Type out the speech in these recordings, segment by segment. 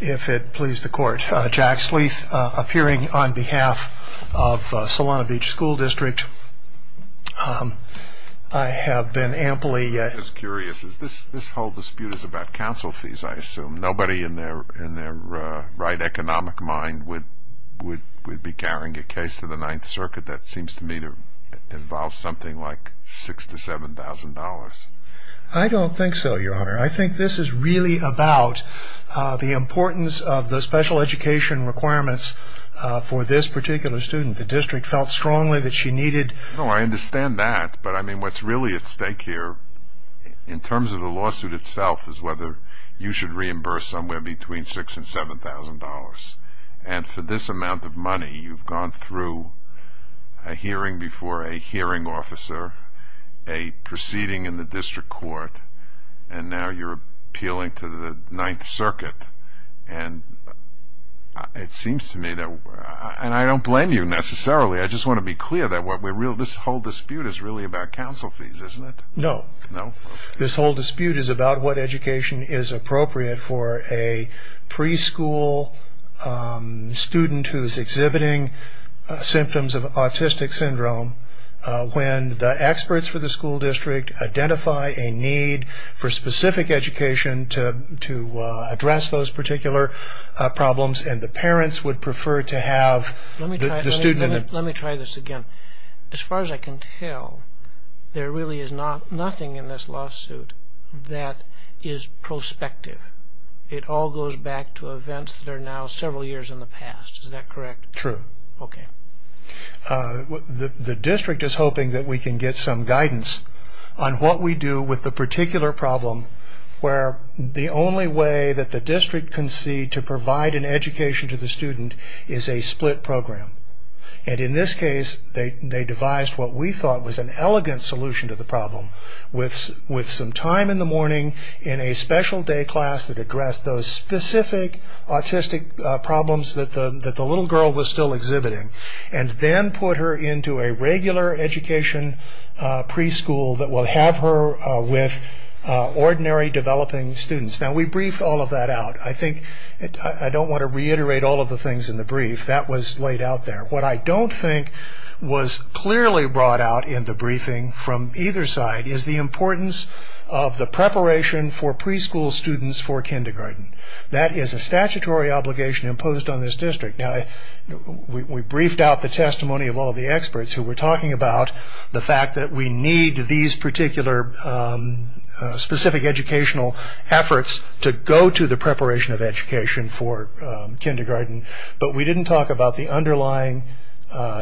If it pleases the court, Jack Sleeth, appearing on behalf of Solana Beach School district. I have been amply curious. This whole dispute is about council fees, I assume. Nobody in their right economic mind would be carrying a case to the Ninth Circuit. That seems to me to involve something like $6,000 to $7,000. I don't think so, Your Honor. I think this is really about the importance of the special education requirements for this particular student. The district felt strongly that she needed... No, I understand that. But, I mean, what's really at stake here, in terms of the lawsuit itself, is whether you should reimburse somewhere between $6,000 and $7,000. And for this amount of money, you've gone through a hearing before a hearing officer, a proceeding in the district court, and now you're appealing to the Ninth Circuit. And it seems to me that... And I don't blame you, necessarily. I just want to be clear that this whole dispute is really about council fees, isn't it? No. No? This whole dispute is about what education is appropriate for a preschool student who is exhibiting symptoms of autistic syndrome, when the experts for the school district identify a need for specific education to address those particular problems, and the parents would prefer to have the student... Let me try this again. As far as I can tell, there really is nothing in this lawsuit that is prospective. It all goes back to events that are now several years in the past. Is that correct? True. Okay. The district is hoping that we can get some guidance on what we do with the particular problem where the only way that the district can see to provide an education to the student is a split program. And in this case, they devised what we thought was an elegant solution to the problem with some time in the morning in a special day class that addressed those specific autistic problems that the little girl was still exhibiting, and then put her into a regular education preschool that will have her with ordinary developing students. Now, we briefed all of that out. I don't want to reiterate all of the things in the brief. That was laid out there. What I don't think was clearly brought out in the briefing from either side is the importance of the preparation for preschool students for kindergarten. That is a statutory obligation imposed on this district. Now, we briefed out the testimony of all the experts who were talking about the fact that we need these particular specific educational efforts to go to the preparation of education for kindergarten, but we didn't talk about the underlying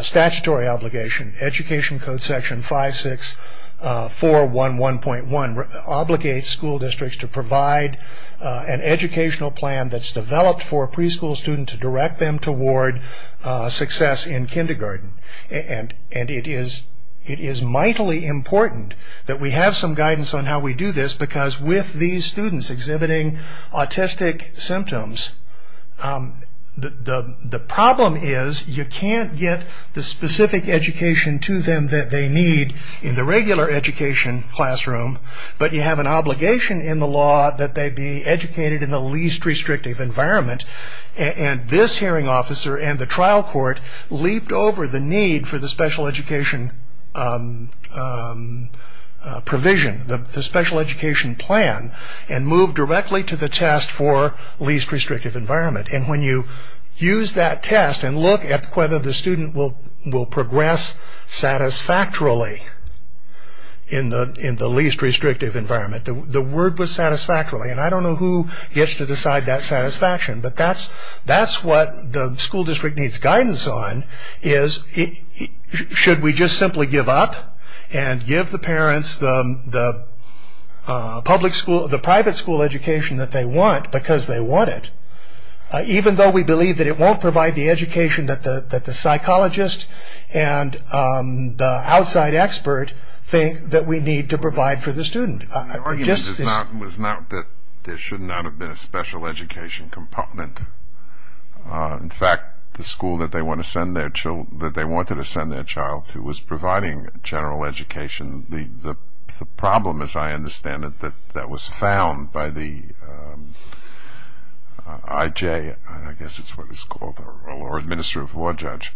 statutory obligation. Education Code Section 56411.1 obligates school districts to provide an educational plan that's developed for a preschool student to direct them toward success in kindergarten. And it is mightily important that we have some guidance on how we do this The problem is you can't get the specific education to them that they need in the regular education classroom, but you have an obligation in the law that they be educated in the least restrictive environment. And this hearing officer and the trial court leaped over the need for the special education provision, the special education plan, and moved directly to the test for least restrictive environment. And when you use that test and look at whether the student will progress satisfactorily in the least restrictive environment, the word was satisfactorily, and I don't know who gets to decide that satisfaction. But that's what the school district needs guidance on is should we just simply give up and give the parents the private school education that they want because they want it, even though we believe that it won't provide the education that the psychologist and the outside expert think that we need to provide for the student. The argument was not that there should not have been a special education compartment. In fact, the school that they wanted to send their child to that was providing general education, the problem, as I understand it, that was found by the IJ, I guess it's what it's called, or the Minister of Law Judge,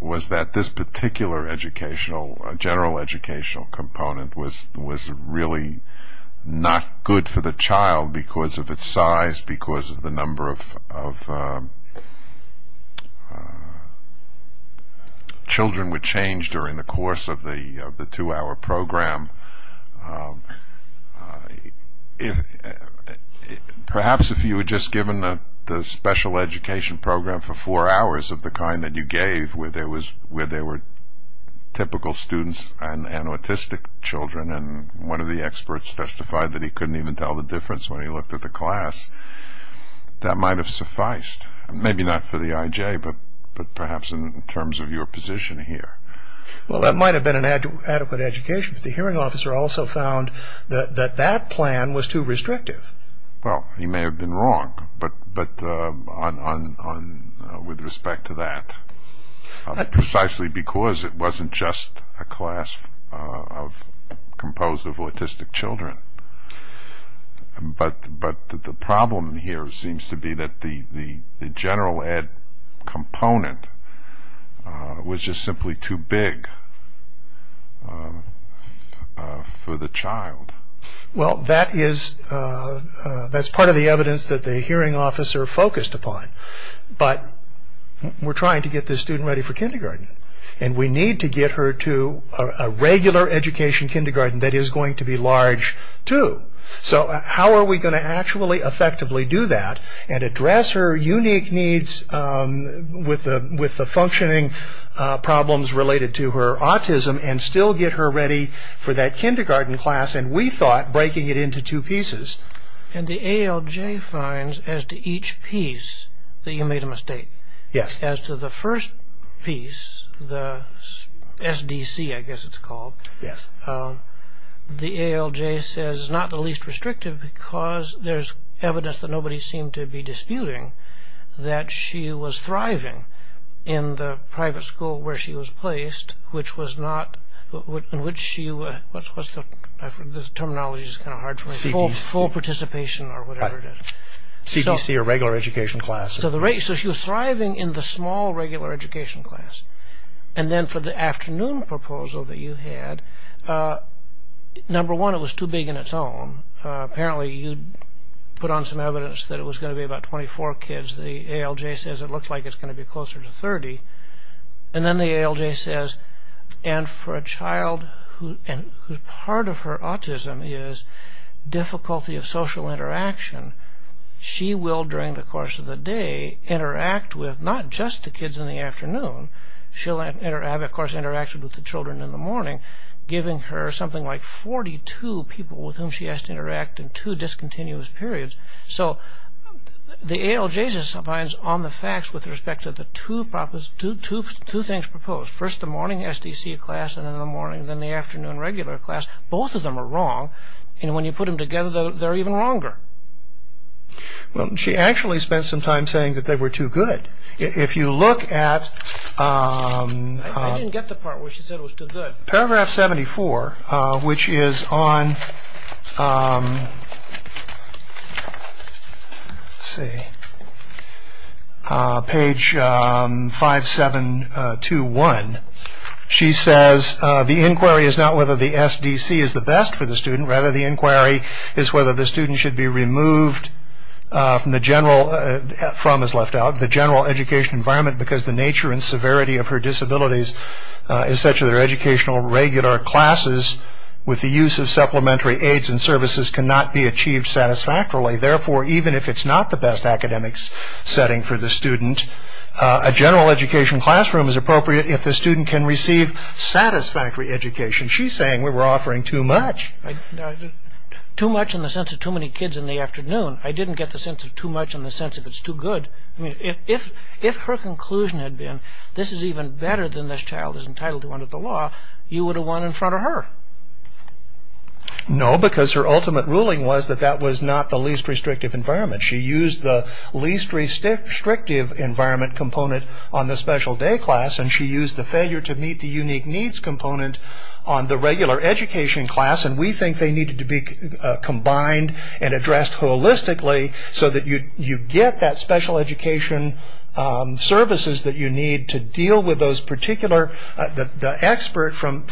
was that this particular general educational component was really not good for the child because of its size, because of the number of children were changed during the course of the two-hour program. Perhaps if you were just given the special education program for four hours of the kind that you gave where there were typical students and autistic children, and one of the experts testified that he couldn't even tell the difference when he looked at the class, that might have sufficed. Maybe not for the IJ, but perhaps in terms of your position here. Well, that might have been an adequate education, but the hearing officer also found that that plan was too restrictive. Well, he may have been wrong, but with respect to that, precisely because it wasn't just a class composed of autistic children. But the problem here seems to be that the general ed component was just simply too big for the child. Well, that's part of the evidence that the hearing officer focused upon, but we're trying to get this student ready for kindergarten, and we need to get her to a regular education kindergarten that is going to be large too. So how are we going to actually effectively do that and address her unique needs with the functioning problems related to her autism and still get her ready for that kindergarten class, and we thought breaking it into two pieces. And the ALJ finds as to each piece that you made a mistake. Yes. As to the first piece, the SDC I guess it's called, the ALJ says it's not the least restrictive because there's evidence that nobody seemed to be disputing that she was thriving in the private school where she was placed, which was not, in which she was, what's the, this terminology is kind of hard for me, full participation or whatever it is. CDC or regular education class. So she was thriving in the small regular education class. And then for the afternoon proposal that you had, number one, it was too big on its own. Apparently you put on some evidence that it was going to be about 24 kids. The ALJ says it looks like it's going to be closer to 30. And then the ALJ says, and for a child, and part of her autism is difficulty of social interaction, she will, during the course of the day, interact with not just the kids in the afternoon. She'll have, of course, interacted with the children in the morning, giving her something like 42 people with whom she has to interact in two discontinuous periods. So the ALJ just abides on the facts with respect to the two things proposed, first the morning SDC class and then the afternoon regular class. Both of them are wrong. And when you put them together, they're even wronger. Well, she actually spent some time saying that they were too good. If you look at... I didn't get the part where she said it was too good. Paragraph 74, which is on page 5721. She says, The inquiry is not whether the SDC is the best for the student. Rather, the inquiry is whether the student should be removed from the general... from is left out... the general education environment because the nature and severity of her disabilities is such that her educational regular classes with the use of supplementary aids and services cannot be achieved satisfactorily. Therefore, even if it's not the best academic setting for the student, a general education classroom is appropriate if the student can receive satisfactory education. She's saying we were offering too much. Too much in the sense of too many kids in the afternoon. I didn't get the sense of too much in the sense of it's too good. If her conclusion had been, this is even better than this child is entitled to under the law, you would have won in front of her. No, because her ultimate ruling was that that was not the least restrictive environment. She used the least restrictive environment component on the special day class, and she used the failure to meet the unique needs component on the regular education class, and we think they needed to be combined and addressed holistically so that you get that special education services that you need to deal with those particular... The expert from...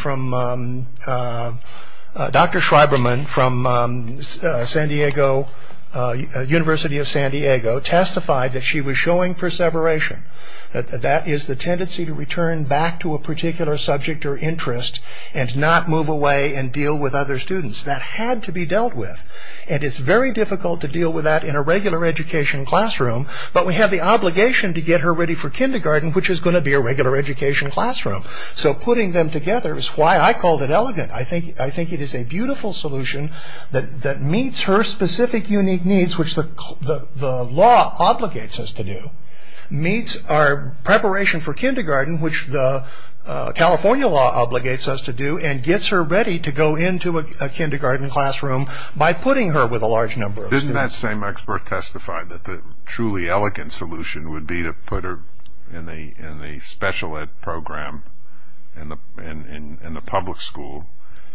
Dr. Schreiberman from San Diego... University of San Diego testified that she was showing perseveration. That is the tendency to return back to a particular subject or interest and not move away and deal with other students. That had to be dealt with, and it's very difficult to deal with that in a regular education classroom, but we have the obligation to get her ready for kindergarten, which is going to be a regular education classroom, so putting them together is why I called it elegant. I think it is a beautiful solution that meets her specific unique needs, which the law obligates us to do, meets our preparation for kindergarten, which the California law obligates us to do, and gets her ready to go into a kindergarten classroom by putting her with a large number of students. Didn't that same expert testify that the truly elegant solution would be to put her in the special ed program in the public school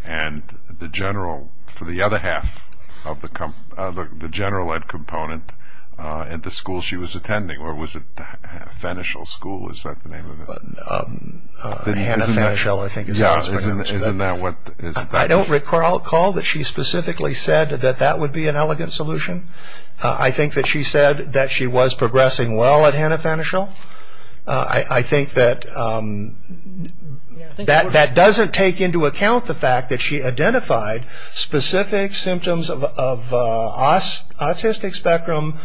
and the general... for the other half of the general ed component at the school she was attending, or was it Fenichel School? Is that the name of it? Hannah Fenichel, I think it stands for. Yeah, isn't that what... I don't recall that she specifically said that that would be an elegant solution. I think that she said that she was progressing well at Hannah Fenichel. I think that... that doesn't take into account the fact that she identified specific symptoms of autistic spectrum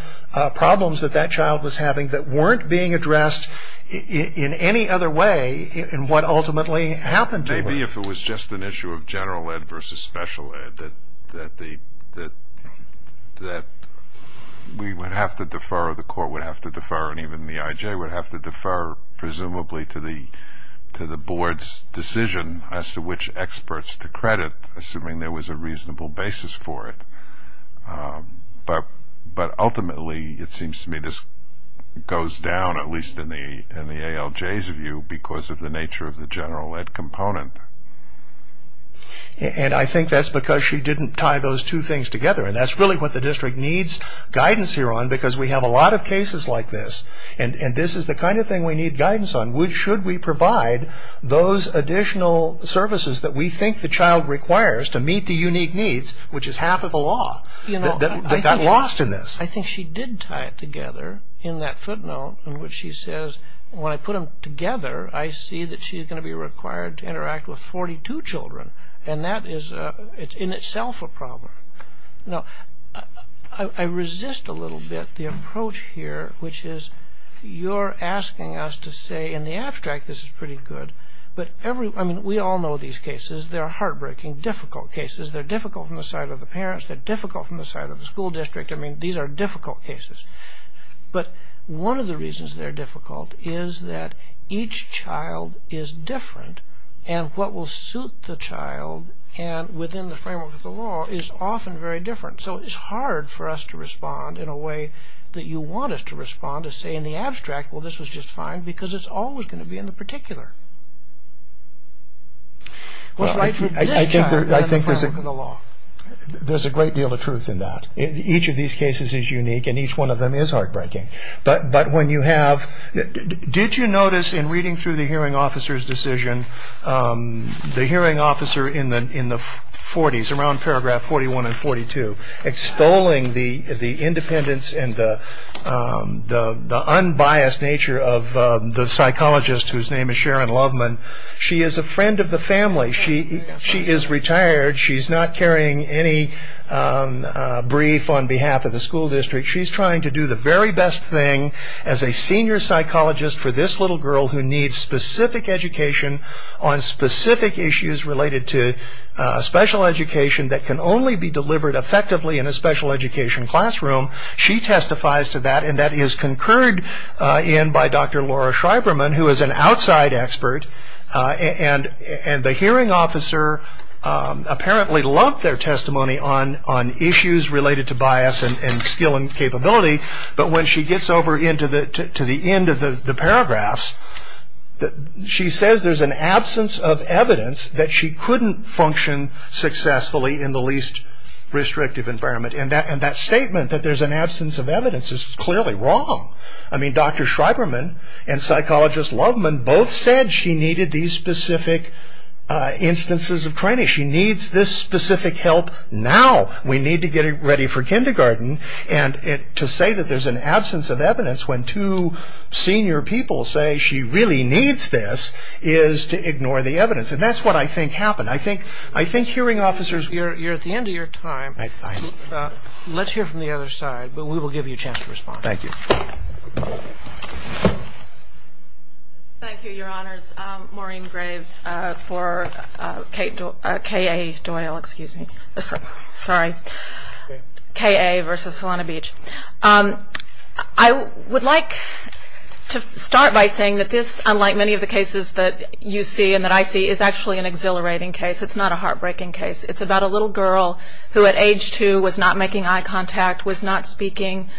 problems that that child was having that weren't being addressed in any other way in what ultimately happened to her. I see if it was just an issue of general ed versus special ed that we would have to defer, or the court would have to defer, and even the IJ would have to defer, presumably to the board's decision as to which experts to credit, assuming there was a reasonable basis for it. But ultimately, it seems to me, this goes down, at least in the ALJ's view, because of the nature of the general ed component. And I think that's because she didn't tie those two things together, and that's really what the district needs guidance here on, because we have a lot of cases like this, and this is the kind of thing we need guidance on. Should we provide those additional services that we think the child requires to meet the unique needs, which is half of the law, that got lost in this? I think she did tie it together in that footnote in which she says, when I put them together, I see that she's going to be required to interact with 42 children, and that is in itself a problem. Now, I resist a little bit the approach here, which is you're asking us to say, in the abstract, this is pretty good, but we all know these cases. They're heartbreaking, difficult cases. They're difficult from the side of the parents. They're difficult from the side of the school district. I mean, these are difficult cases. But one of the reasons they're difficult is that each child is different, and what will suit the child within the framework of the law is often very different. So it's hard for us to respond in a way that you want us to respond to say, in the abstract, well, this was just fine, because it's always going to be in the particular. Well, I think there's a great deal of truth in that. Each of these cases is unique, and each one of them is heartbreaking. But when you have – did you notice, in reading through the hearing officer's decision, the hearing officer in the 40s, around paragraph 41 and 42, extolling the independence and the unbiased nature of the psychologist, whose name is Sharon Loveman, she is a friend of the family. She is retired. She's not carrying any brief on behalf of the school district. She's trying to do the very best thing as a senior psychologist for this little girl who needs specific education on specific issues related to special education that can only be delivered effectively in a special education classroom. She testifies to that, and that is concurred in by Dr. Laura Schreiberman, who is an outside expert. And the hearing officer apparently loved their testimony on issues related to bias and skill and capability, but when she gets over to the end of the paragraphs, she says there's an absence of evidence that she couldn't function successfully in the least restrictive environment. And that statement, that there's an absence of evidence, is clearly wrong. I mean, Dr. Schreiberman and psychologist Loveman both said she needed these specific instances of training. She needs this specific help now. We need to get her ready for kindergarten. And to say that there's an absence of evidence when two senior people say she really needs this is to ignore the evidence. And that's what I think happened. I think hearing officers... You're at the end of your time. Let's hear from the other side, but we will give you a chance to respond. Thank you. Thank you, Your Honors. Maureen Graves for K.A. Doyle versus Solana Beach. I would like to start by saying that this, unlike many of the cases that you see and that I see, is actually an exhilarating case. It's not a heartbreaking case. It's about a little girl who at age two was not making eye contact, was not speaking,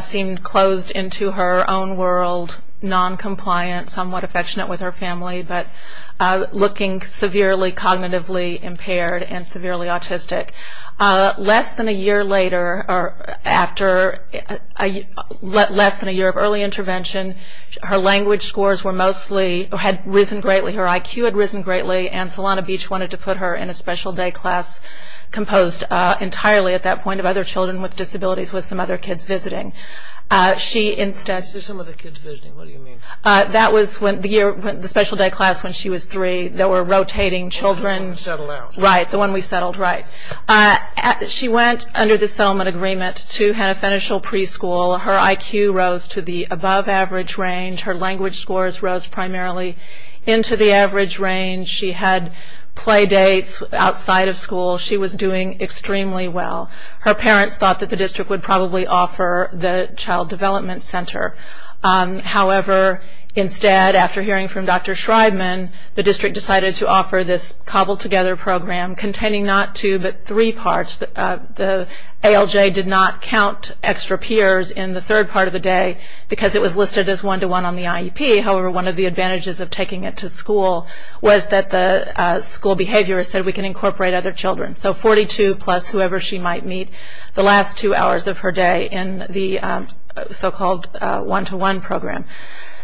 seemed closed into her own world, noncompliant, somewhat affectionate with her family, but looking severely cognitively impaired and severely autistic. Less than a year later or after less than a year of early intervention, her language scores were mostly or had risen greatly. Her IQ had risen greatly, and Solana Beach wanted to put her in a special day class composed entirely at that point of other children with disabilities with some other kids visiting. She instead... Some other kids visiting. What do you mean? That was the special day class when she was three that were rotating children. The one we settled out. Right. The one we settled. Right. She went under the settlement agreement to have financial preschool. Her IQ rose to the above average range. Her language scores rose primarily into the average range. She had play dates outside of school. She was doing extremely well. Her parents thought that the district would probably offer the child development center. However, instead, after hearing from Dr. Schreibman, the district decided to offer this cobbled together program containing not two but three parts. The ALJ did not count extra peers in the third part of the day because it was listed as one-to-one on the IEP. However, one of the advantages of taking it to school was that the school behaviorist said we can incorporate other children. So 42 plus whoever she might meet the last two hours of her day in the so-called one-to-one program.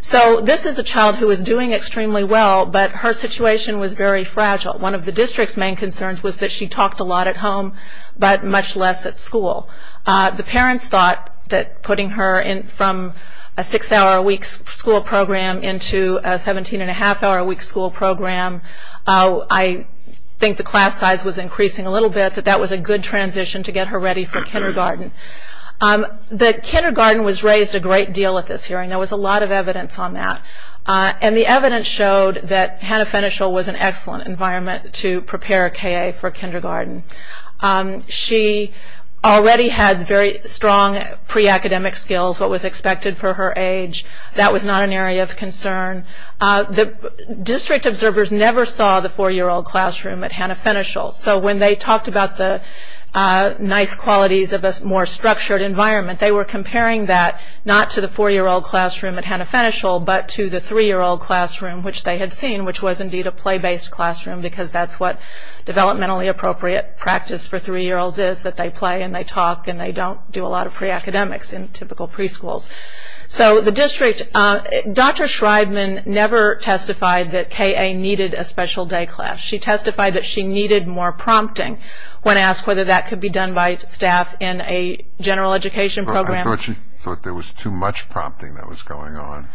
So this is a child who is doing extremely well, but her situation was very fragile. One of the district's main concerns was that she talked a lot at home but much less at school. The parents thought that putting her from a six-hour-a-week school program into a 17-and-a-half-hour-a-week school program, I think the class size was increasing a little bit, that that was a good transition to get her ready for kindergarten. The kindergarten was raised a great deal at this hearing. There was a lot of evidence on that. And the evidence showed that Hannah Fenichel was an excellent environment to prepare a K.A. for kindergarten. She already had very strong pre-academic skills, what was expected for her age. That was not an area of concern. The district observers never saw the four-year-old classroom at Hannah Fenichel. So when they talked about the nice qualities of a more structured environment, they were comparing that not to the four-year-old classroom at Hannah Fenichel but to the three-year-old classroom, which they had seen, which was indeed a play-based classroom because that's what developmentally appropriate practice for three-year-olds is, that they play and they talk and they don't do a lot of pre-academics in typical preschools. So the district – Dr. Schreibman never testified that K.A. needed a special day class. She testified that she needed more prompting when asked whether that could be done by staff in a general education program. I thought she thought there was too much prompting that was going on.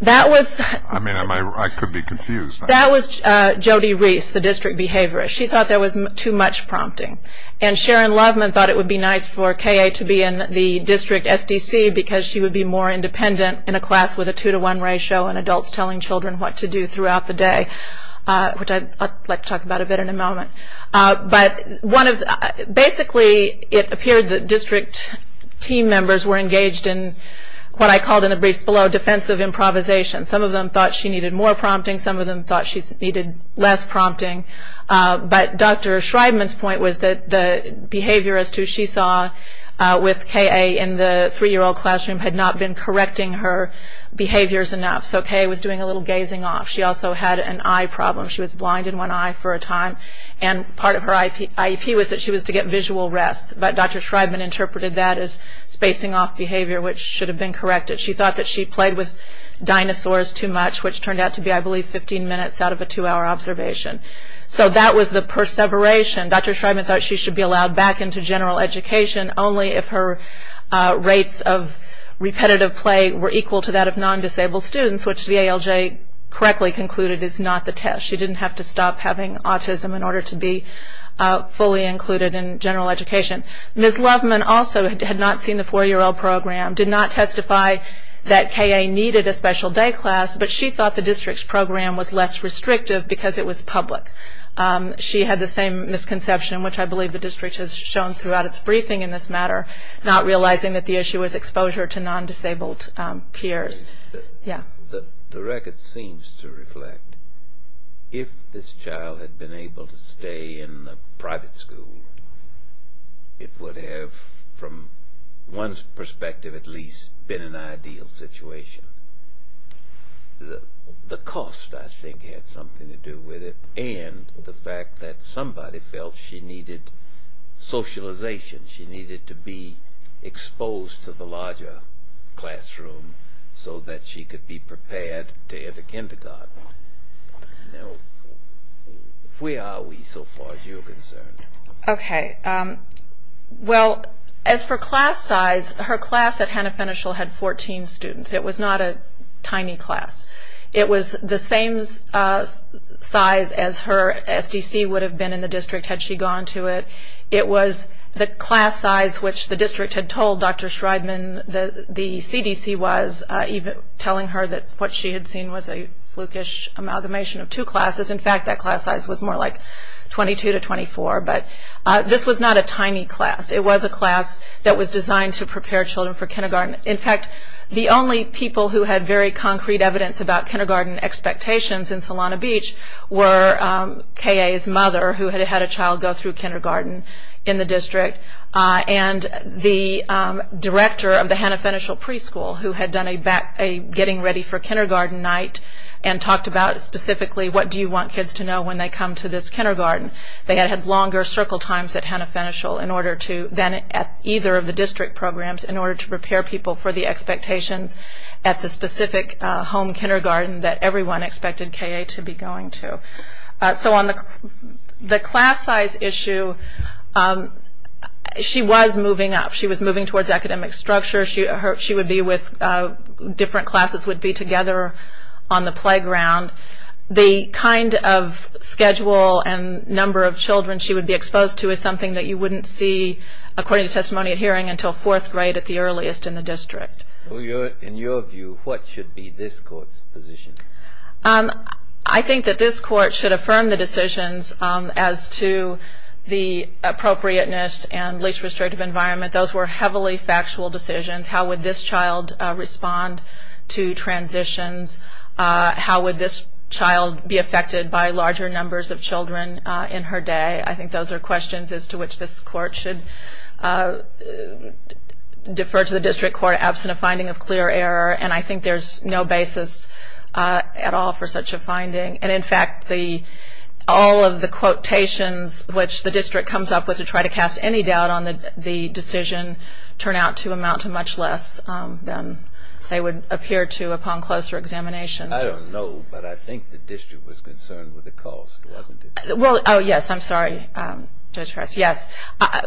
That was – I mean, I could be confused. That was Jody Reese, the district behaviorist. She thought there was too much prompting. And Sharon Loveman thought it would be nice for K.A. to be in the district SDC because she would be more independent in a class with a two-to-one ratio and adults telling children what to do throughout the day, which I'd like to talk about a bit in a moment. But one of – basically, it appeared that district team members were engaged in what I called in the briefs below defensive improvisation. Some of them thought she needed more prompting. Some of them thought she needed less prompting. But Dr. Schreibman's point was that the behaviorist who she saw with K.A. in the three-year-old classroom had not been correcting her behaviors enough. So K.A. was doing a little gazing off. She also had an eye problem. She was blind in one eye for a time. And part of her IEP was that she was to get visual rest. But Dr. Schreibman interpreted that as spacing off behavior, which should have been corrected. She thought that she played with dinosaurs too much, which turned out to be, I believe, 15 minutes out of a two-hour observation. So that was the perseveration. Dr. Schreibman thought she should be allowed back into general education only if her rates of repetitive play were equal to that of non-disabled students, which the ALJ correctly concluded is not the test. She didn't have to stop having autism in order to be fully included in general education. Ms. Loveman also had not seen the four-year-old program, did not testify that K.A. needed a special day class, but she thought the district's program was less restrictive because it was public. She had the same misconception, which I believe the district has shown throughout its briefing in this matter, not realizing that the issue was exposure to non-disabled peers. The record seems to reflect if this child had been able to stay in a private school, it would have, from one's perspective at least, been an ideal situation. The cost, I think, had something to do with it, and the fact that somebody felt she needed socialization, she needed to be exposed to the larger classroom so that she could be prepared to enter kindergarten. Now, where are we so far as you're concerned? Okay. Well, as for class size, her class at Hannah Fenichel had 14 students. It was not a tiny class. It was the same size as her SDC would have been in the district had she gone to it. It was the class size which the district had told Dr. Shrydman the CDC was, telling her that what she had seen was a flukish amalgamation of two classes. In fact, that class size was more like 22 to 24, but this was not a tiny class. It was a class that was designed to prepare children for kindergarten. In fact, the only people who had very concrete evidence about kindergarten expectations in Solana Beach were K.A.'s mother, who had had a child go through kindergarten in the district, and the director of the Hannah Fenichel preschool, who had done a getting ready for kindergarten night and talked about specifically what do you want kids to know when they come to this kindergarten. They had had longer circle times at Hannah Fenichel than at either of the district programs in order to prepare people for the expectations at the specific home kindergarten that everyone expected K.A. to be going to. So on the class size issue, she was moving up. She was moving towards academic structure. She would be with different classes, would be together on the playground. The kind of schedule and number of children she would be exposed to is something that you wouldn't see, according to testimony at hearing, until fourth grade at the earliest in the district. So in your view, what should be this court's position? I think that this court should affirm the decisions as to the appropriateness and least restrictive environment. Those were heavily factual decisions. How would this child respond to transitions? How would this child be affected by larger numbers of children in her day? I think those are questions as to which this court should defer to the district court absent a finding of clear error, and I think there's no basis at all for such a finding. And, in fact, all of the quotations which the district comes up with to try to cast any doubt on the decision turn out to amount to much less than they would appear to upon closer examinations. I don't know, but I think the district was concerned with the cost, wasn't it? Oh, yes, I'm sorry, Judge Press, yes.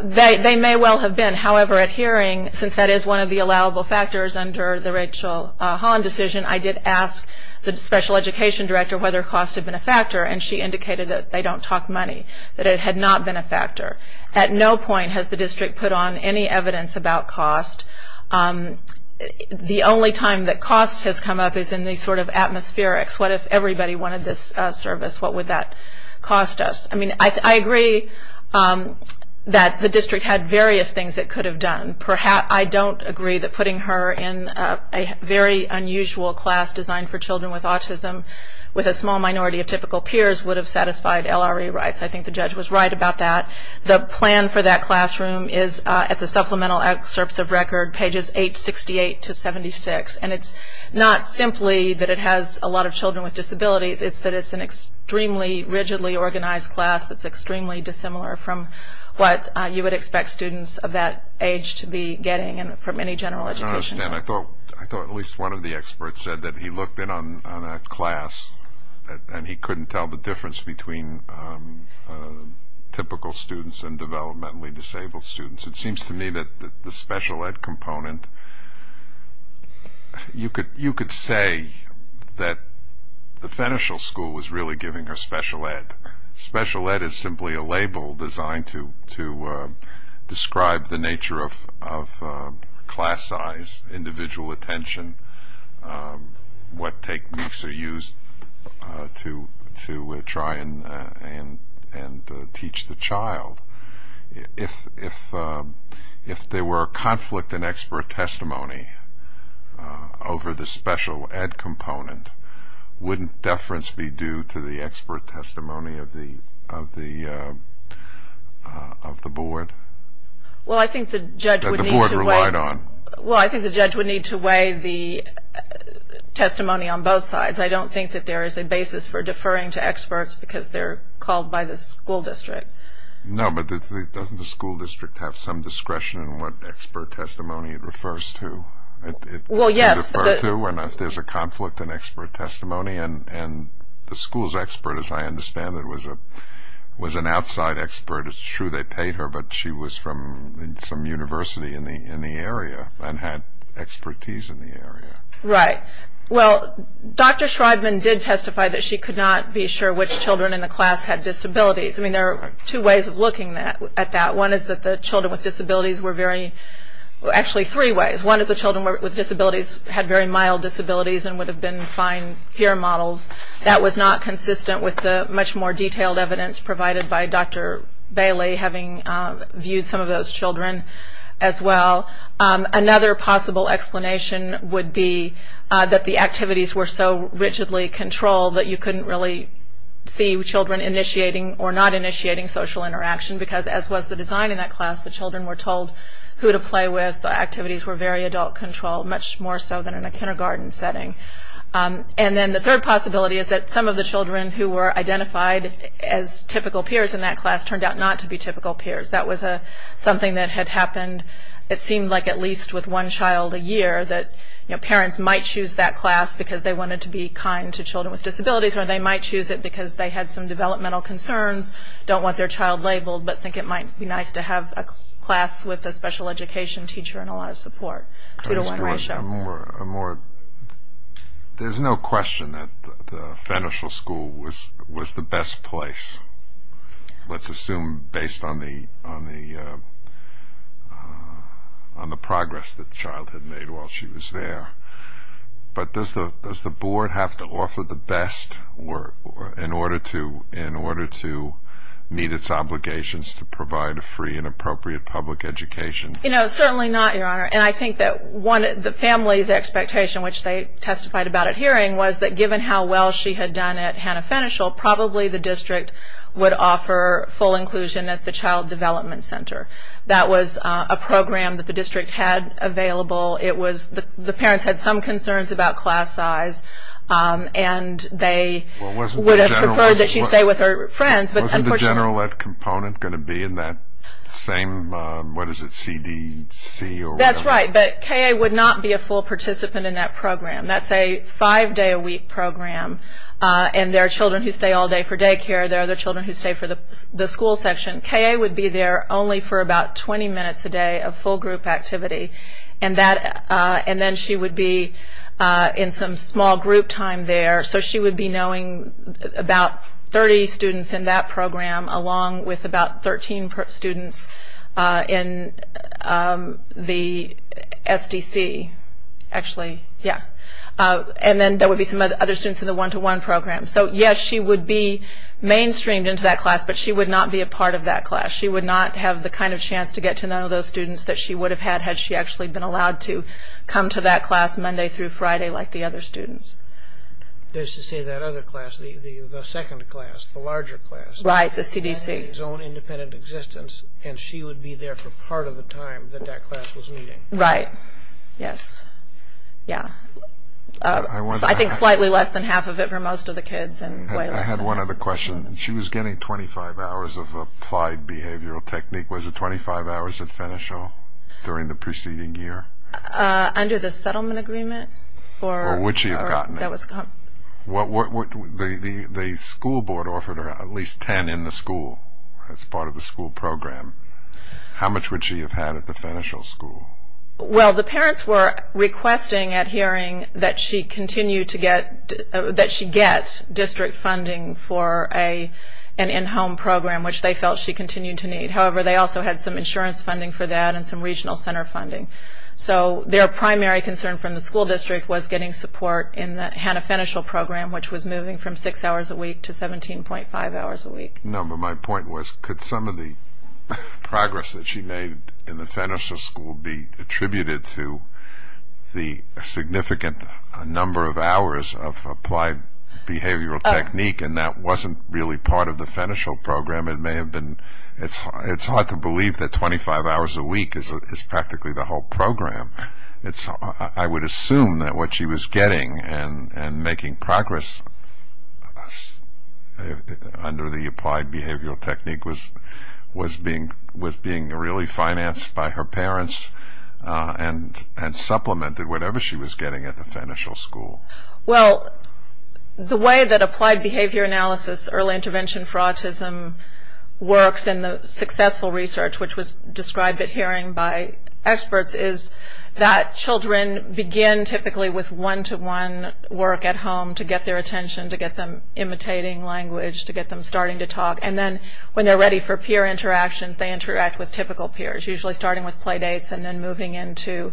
They may well have been. However, at hearing, since that is one of the allowable factors under the Rachel Holland decision, I did ask the special education director whether cost had been a factor, and she indicated that they don't talk money, that it had not been a factor. At no point has the district put on any evidence about cost. The only time that cost has come up is in the sort of atmospherics. What if everybody wanted this service? What would that cost us? I mean, I agree that the district had various things it could have done. I don't agree that putting her in a very unusual class designed for children with autism with a small minority of typical peers would have satisfied LRE rights. I think the judge was right about that. The plan for that classroom is at the supplemental excerpts of record, pages 868 to 76, and it's not simply that it has a lot of children with disabilities. It's that it's an extremely rigidly organized class that's extremely dissimilar from what you would expect students of that age to be getting from any general education. I don't understand. I thought at least one of the experts said that he looked in on a class and he couldn't tell the difference between typical students and developmentally disabled students. It seems to me that the special ed component, you could say that the Fenershell School was really giving her special ed. Special ed is simply a label designed to describe the nature of class size, individual attention, what techniques are used to try and teach the child. If there were a conflict in expert testimony over the special ed component, wouldn't deference be due to the expert testimony of the board? Well, I think the judge would need to weigh the testimony on both sides. I don't think that there is a basis for deferring to experts because they're called by the school district. No, but doesn't the school district have some discretion in what expert testimony it refers to? Well, yes. There's a conflict in expert testimony, and the school's expert, as I understand it, was an outside expert. It's true they paid her, but she was from some university in the area and had expertise in the area. Right. Well, Dr. Schreibman did testify that she could not be sure which children in the class had disabilities. I mean, there are two ways of looking at that. One is that the children with disabilities were very, actually three ways. One is the children with disabilities had very mild disabilities and would have been fine peer models. That was not consistent with the much more detailed evidence provided by Dr. Bailey, having viewed some of those children as well. Another possible explanation would be that the activities were so rigidly controlled that you couldn't really see children initiating or not initiating social interaction because, as was the design in that class, the children were told who to play with. The activities were very adult-controlled, much more so than in a kindergarten setting. And then the third possibility is that some of the children who were identified as typical peers in that class turned out not to be typical peers. That was something that had happened, it seemed like, at least with one child a year, that parents might choose that class because they wanted to be kind to children with disabilities or they might choose it because they had some developmental concerns, don't want their child labeled, but think it might be nice to have a class with a special education teacher and a lot of support. There's no question that the Fenershel School was the best place, let's assume based on the progress that the child had made while she was there. But does the Board have to offer the best in order to meet its obligations to provide a free and appropriate public education? Certainly not, Your Honor, and I think that the family's expectation, which they testified about at hearing, was that given how well she had done at Hanna Fenershel, probably the district would offer full inclusion at the Child Development Center. That was a program that the district had available. The parents had some concerns about class size, and they would have preferred that she stay with her friends. Wasn't the general ed component going to be in that same, what is it, CDC? That's right, but KA would not be a full participant in that program. That's a five-day-a-week program, and there are children who stay all day for daycare. There are other children who stay for the school section. KA would be there only for about 20 minutes a day of full group activity, and then she would be in some small group time there. So she would be knowing about 30 students in that program, along with about 13 students in the SDC, actually. Yeah. And then there would be some other students in the one-to-one program. So, yes, she would be mainstreamed into that class, but she would not be a part of that class. She would not have the kind of chance to get to know those students that she would have had had she actually been allowed to come to that class Monday through Friday like the other students. There's to say that other class, the second class, the larger class. Right, the CDC. That had its own independent existence, and she would be there for part of the time that that class was meeting. Right. Yes. Yeah. I think slightly less than half of it for most of the kids and way less than half. I had one other question. She was getting 25 hours of applied behavioral technique. Was it 25 hours at Fenichel during the preceding year? Under the settlement agreement. Or would she have gotten it? The school board offered her at least 10 in the school as part of the school program. How much would she have had at the Fenichel school? Well, the parents were requesting at hearing that she get district funding for an in-home program, which they felt she continued to need. However, they also had some insurance funding for that and some regional center funding. So their primary concern from the school district was getting support in the Hanna Fenichel program, which was moving from six hours a week to 17.5 hours a week. No, but my point was could some of the progress that she made in the Fenichel school be attributed to the significant number of hours of applied behavioral technique, and that wasn't really part of the Fenichel program. It's hard to believe that 25 hours a week is practically the whole program. I would assume that what she was getting and making progress under the applied behavioral technique was being really financed by her parents and supplemented whatever she was getting at the Fenichel school. Well, the way that applied behavior analysis, early intervention for autism works and the successful research, which was described at hearing by experts, is that children begin typically with one-to-one work at home to get their attention, to get them imitating language, to get them starting to talk. And then when they're ready for peer interactions, they interact with typical peers, usually starting with play dates and then moving into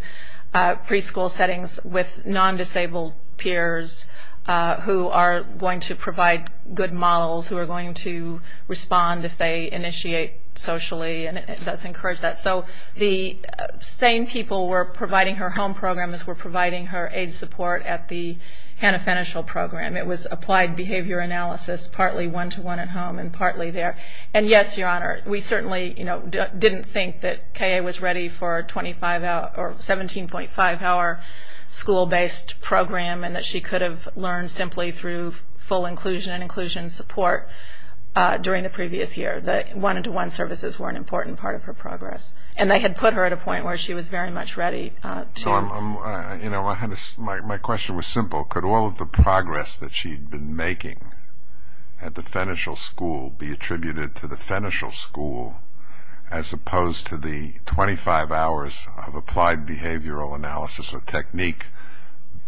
preschool settings with non-disabled peers who are going to provide good models, who are going to respond if they initiate socially, and it does encourage that. So the same people were providing her home program as were providing her aid support at the Hannah Fenichel program. It was applied behavior analysis, partly one-to-one at home and partly there. And, yes, Your Honor, we certainly didn't think that K.A. was ready for a 17.5-hour school-based program and that she could have learned simply through full inclusion and inclusion support during the previous year. The one-to-one services were an important part of her progress, and they had put her at a point where she was very much ready to. My question was simple. Could all of the progress that she'd been making at the Fenichel School be attributed to the Fenichel School as opposed to the 25 hours of applied behavioral analysis or technique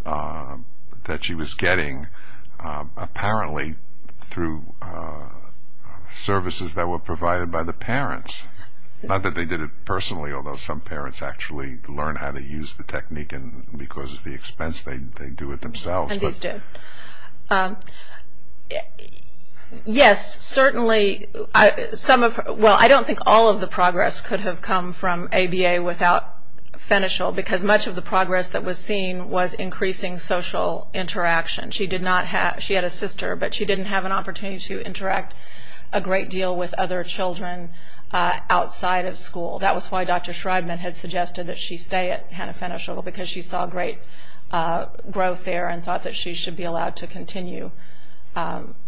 that she was getting apparently through services that were provided by the parents? Not that they did it personally, although some parents actually learn how to use the technique and because of the expense they do it themselves. And these do. Yes, certainly. Well, I don't think all of the progress could have come from ABA without Fenichel because much of the progress that was seen was increasing social interaction. She had a sister, but she didn't have an opportunity to interact a great deal with other children outside of school. That was why Dr. Schreibman had suggested that she stay at Hanna-Fenichel because she saw great growth there and thought that she should be allowed to continue.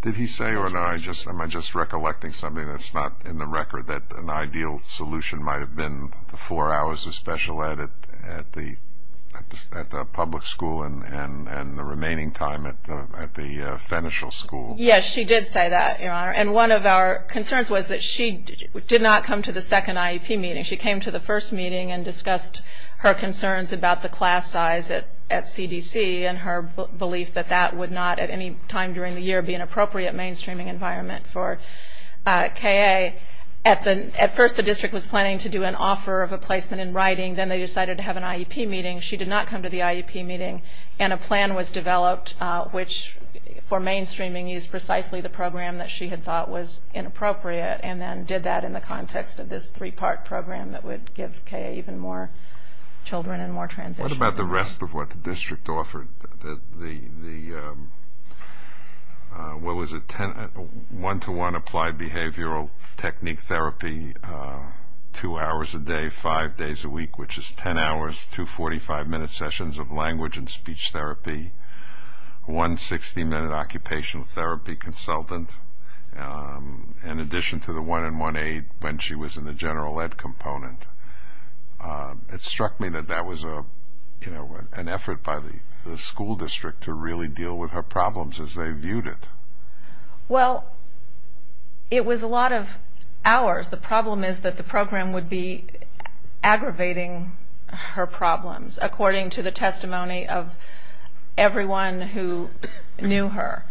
Did he say, or am I just recollecting something that's not in the record, that an ideal solution might have been the four hours of special ed at the public school and the remaining time at the Fenichel School? Yes, she did say that, Your Honor. And one of our concerns was that she did not come to the second IEP meeting. She came to the first meeting and discussed her concerns about the class size at CDC and her belief that that would not, at any time during the year, be an appropriate mainstreaming environment for KA. At first the district was planning to do an offer of a placement in writing. Then they decided to have an IEP meeting. She did not come to the IEP meeting, and a plan was developed, which for mainstreaming is precisely the program that she had thought was inappropriate and then did that in the context of this three-part program that would give KA even more children and more transitions. What about the rest of what the district offered? What was it? One-to-one applied behavioral technique therapy, two hours a day, five days a week, which is ten hours, two 45-minute sessions of language and speech therapy, one 60-minute occupational therapy consultant, in addition to the one-on-one aid when she was in the general ed component. It struck me that that was an effort by the school district to really deal with her problems as they viewed it. Well, it was a lot of hours. The problem is that the program would be aggravating her problems, according to the testimony of everyone who knew her.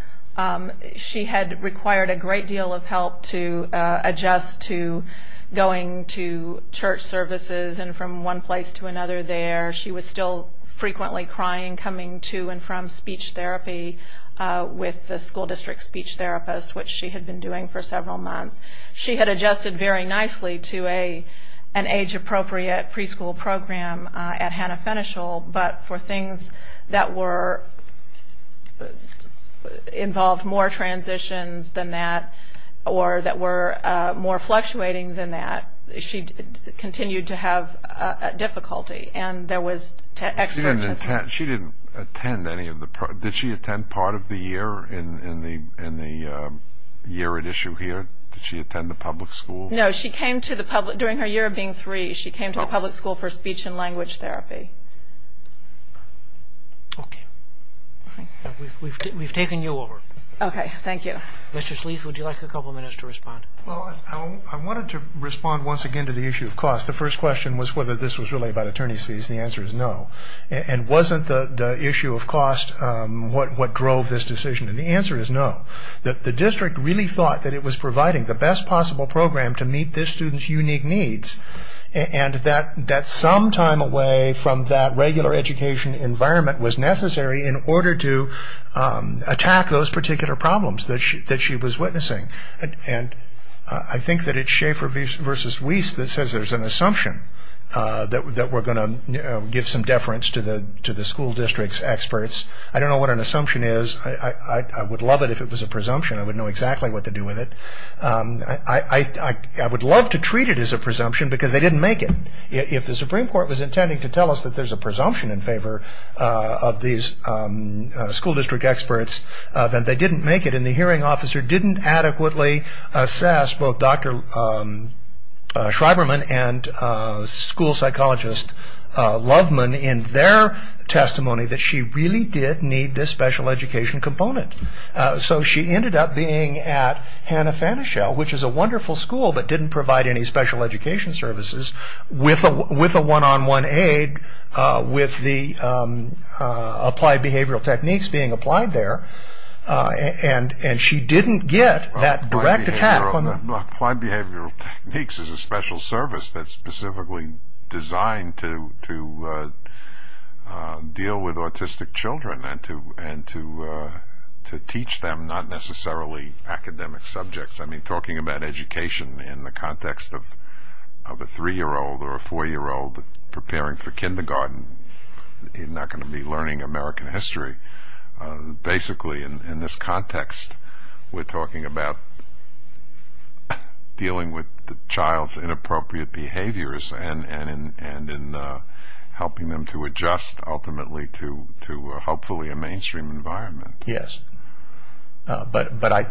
She had required a great deal of help to adjust to going to church services and from one place to another there. She was still frequently crying coming to and from speech therapy with the school district speech therapist, which she had been doing for several months. She had adjusted very nicely to an age-appropriate preschool program at Hannah Fenichel, but for things that involved more transitions than that or that were more fluctuating than that, she continued to have difficulty. She didn't attend any of the programs. Did she attend part of the year in the year at issue here? Did she attend the public school? No, during her year of being three, she came to the public school for speech and language therapy. Okay. We've taken you over. Okay. Thank you. Mr. Sleeth, would you like a couple of minutes to respond? Well, I wanted to respond once again to the issue of cost. The first question was whether this was really about attorney's fees. The answer is no. And wasn't the issue of cost what drove this decision? And the answer is no. The district really thought that it was providing the best possible program to meet this student's unique needs and that some time away from that regular education environment was necessary in order to attack those particular problems that she was witnessing. And I think that it's Schaefer v. Weiss that says there's an assumption that we're going to give some deference to the school district's experts. I don't know what an assumption is. I would love it if it was a presumption. I would know exactly what to do with it. I would love to treat it as a presumption because they didn't make it. If the Supreme Court was intending to tell us that there's a presumption in favor of these school district experts, then they didn't make it. And the hearing officer didn't adequately assess both Dr. Schreiberman and school psychologist Loveman in their testimony that she really did need this special education component. So she ended up being at Hanna-Fanishel, which is a wonderful school but didn't provide any special education services, with a one-on-one aid with the applied behavioral techniques being applied there. And she didn't get that direct attack. Applied behavioral techniques is a special service that's specifically designed to deal with autistic children and to teach them not necessarily academic subjects. I mean, talking about education in the context of a three-year-old or a four-year-old preparing for kindergarten, they're not going to be learning American history. Basically, in this context, we're talking about dealing with the child's inappropriate behaviors and in helping them to adjust ultimately to hopefully a mainstream environment. Yes. But I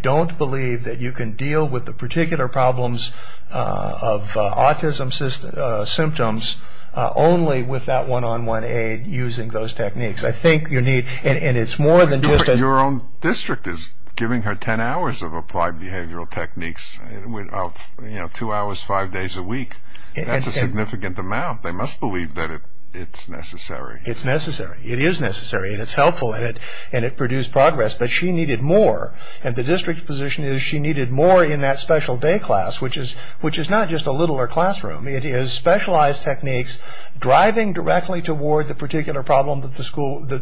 don't believe that you can deal with the particular problems of autism symptoms only with that one-on-one aid using those techniques. Your own district is giving her ten hours of applied behavioral techniques, two hours, five days a week. That's a significant amount. They must believe that it's necessary. It's necessary. It is necessary, and it's helpful, and it produced progress. But she needed more, and the district's position is she needed more in that special day class, which is not just a littler classroom. It is specialized techniques driving directly toward the particular problem that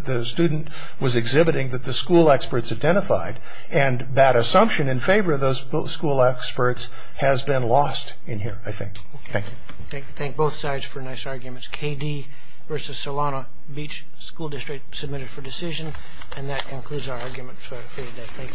the student was exhibiting that the school experts identified, and that assumption in favor of those school experts has been lost in here, I think. Okay. Thank you. Thank both sides for nice arguments. KD versus Solano Beach School District submitted for decision, and that concludes our argument for today. Thank you. All rise for the decision to adjourn.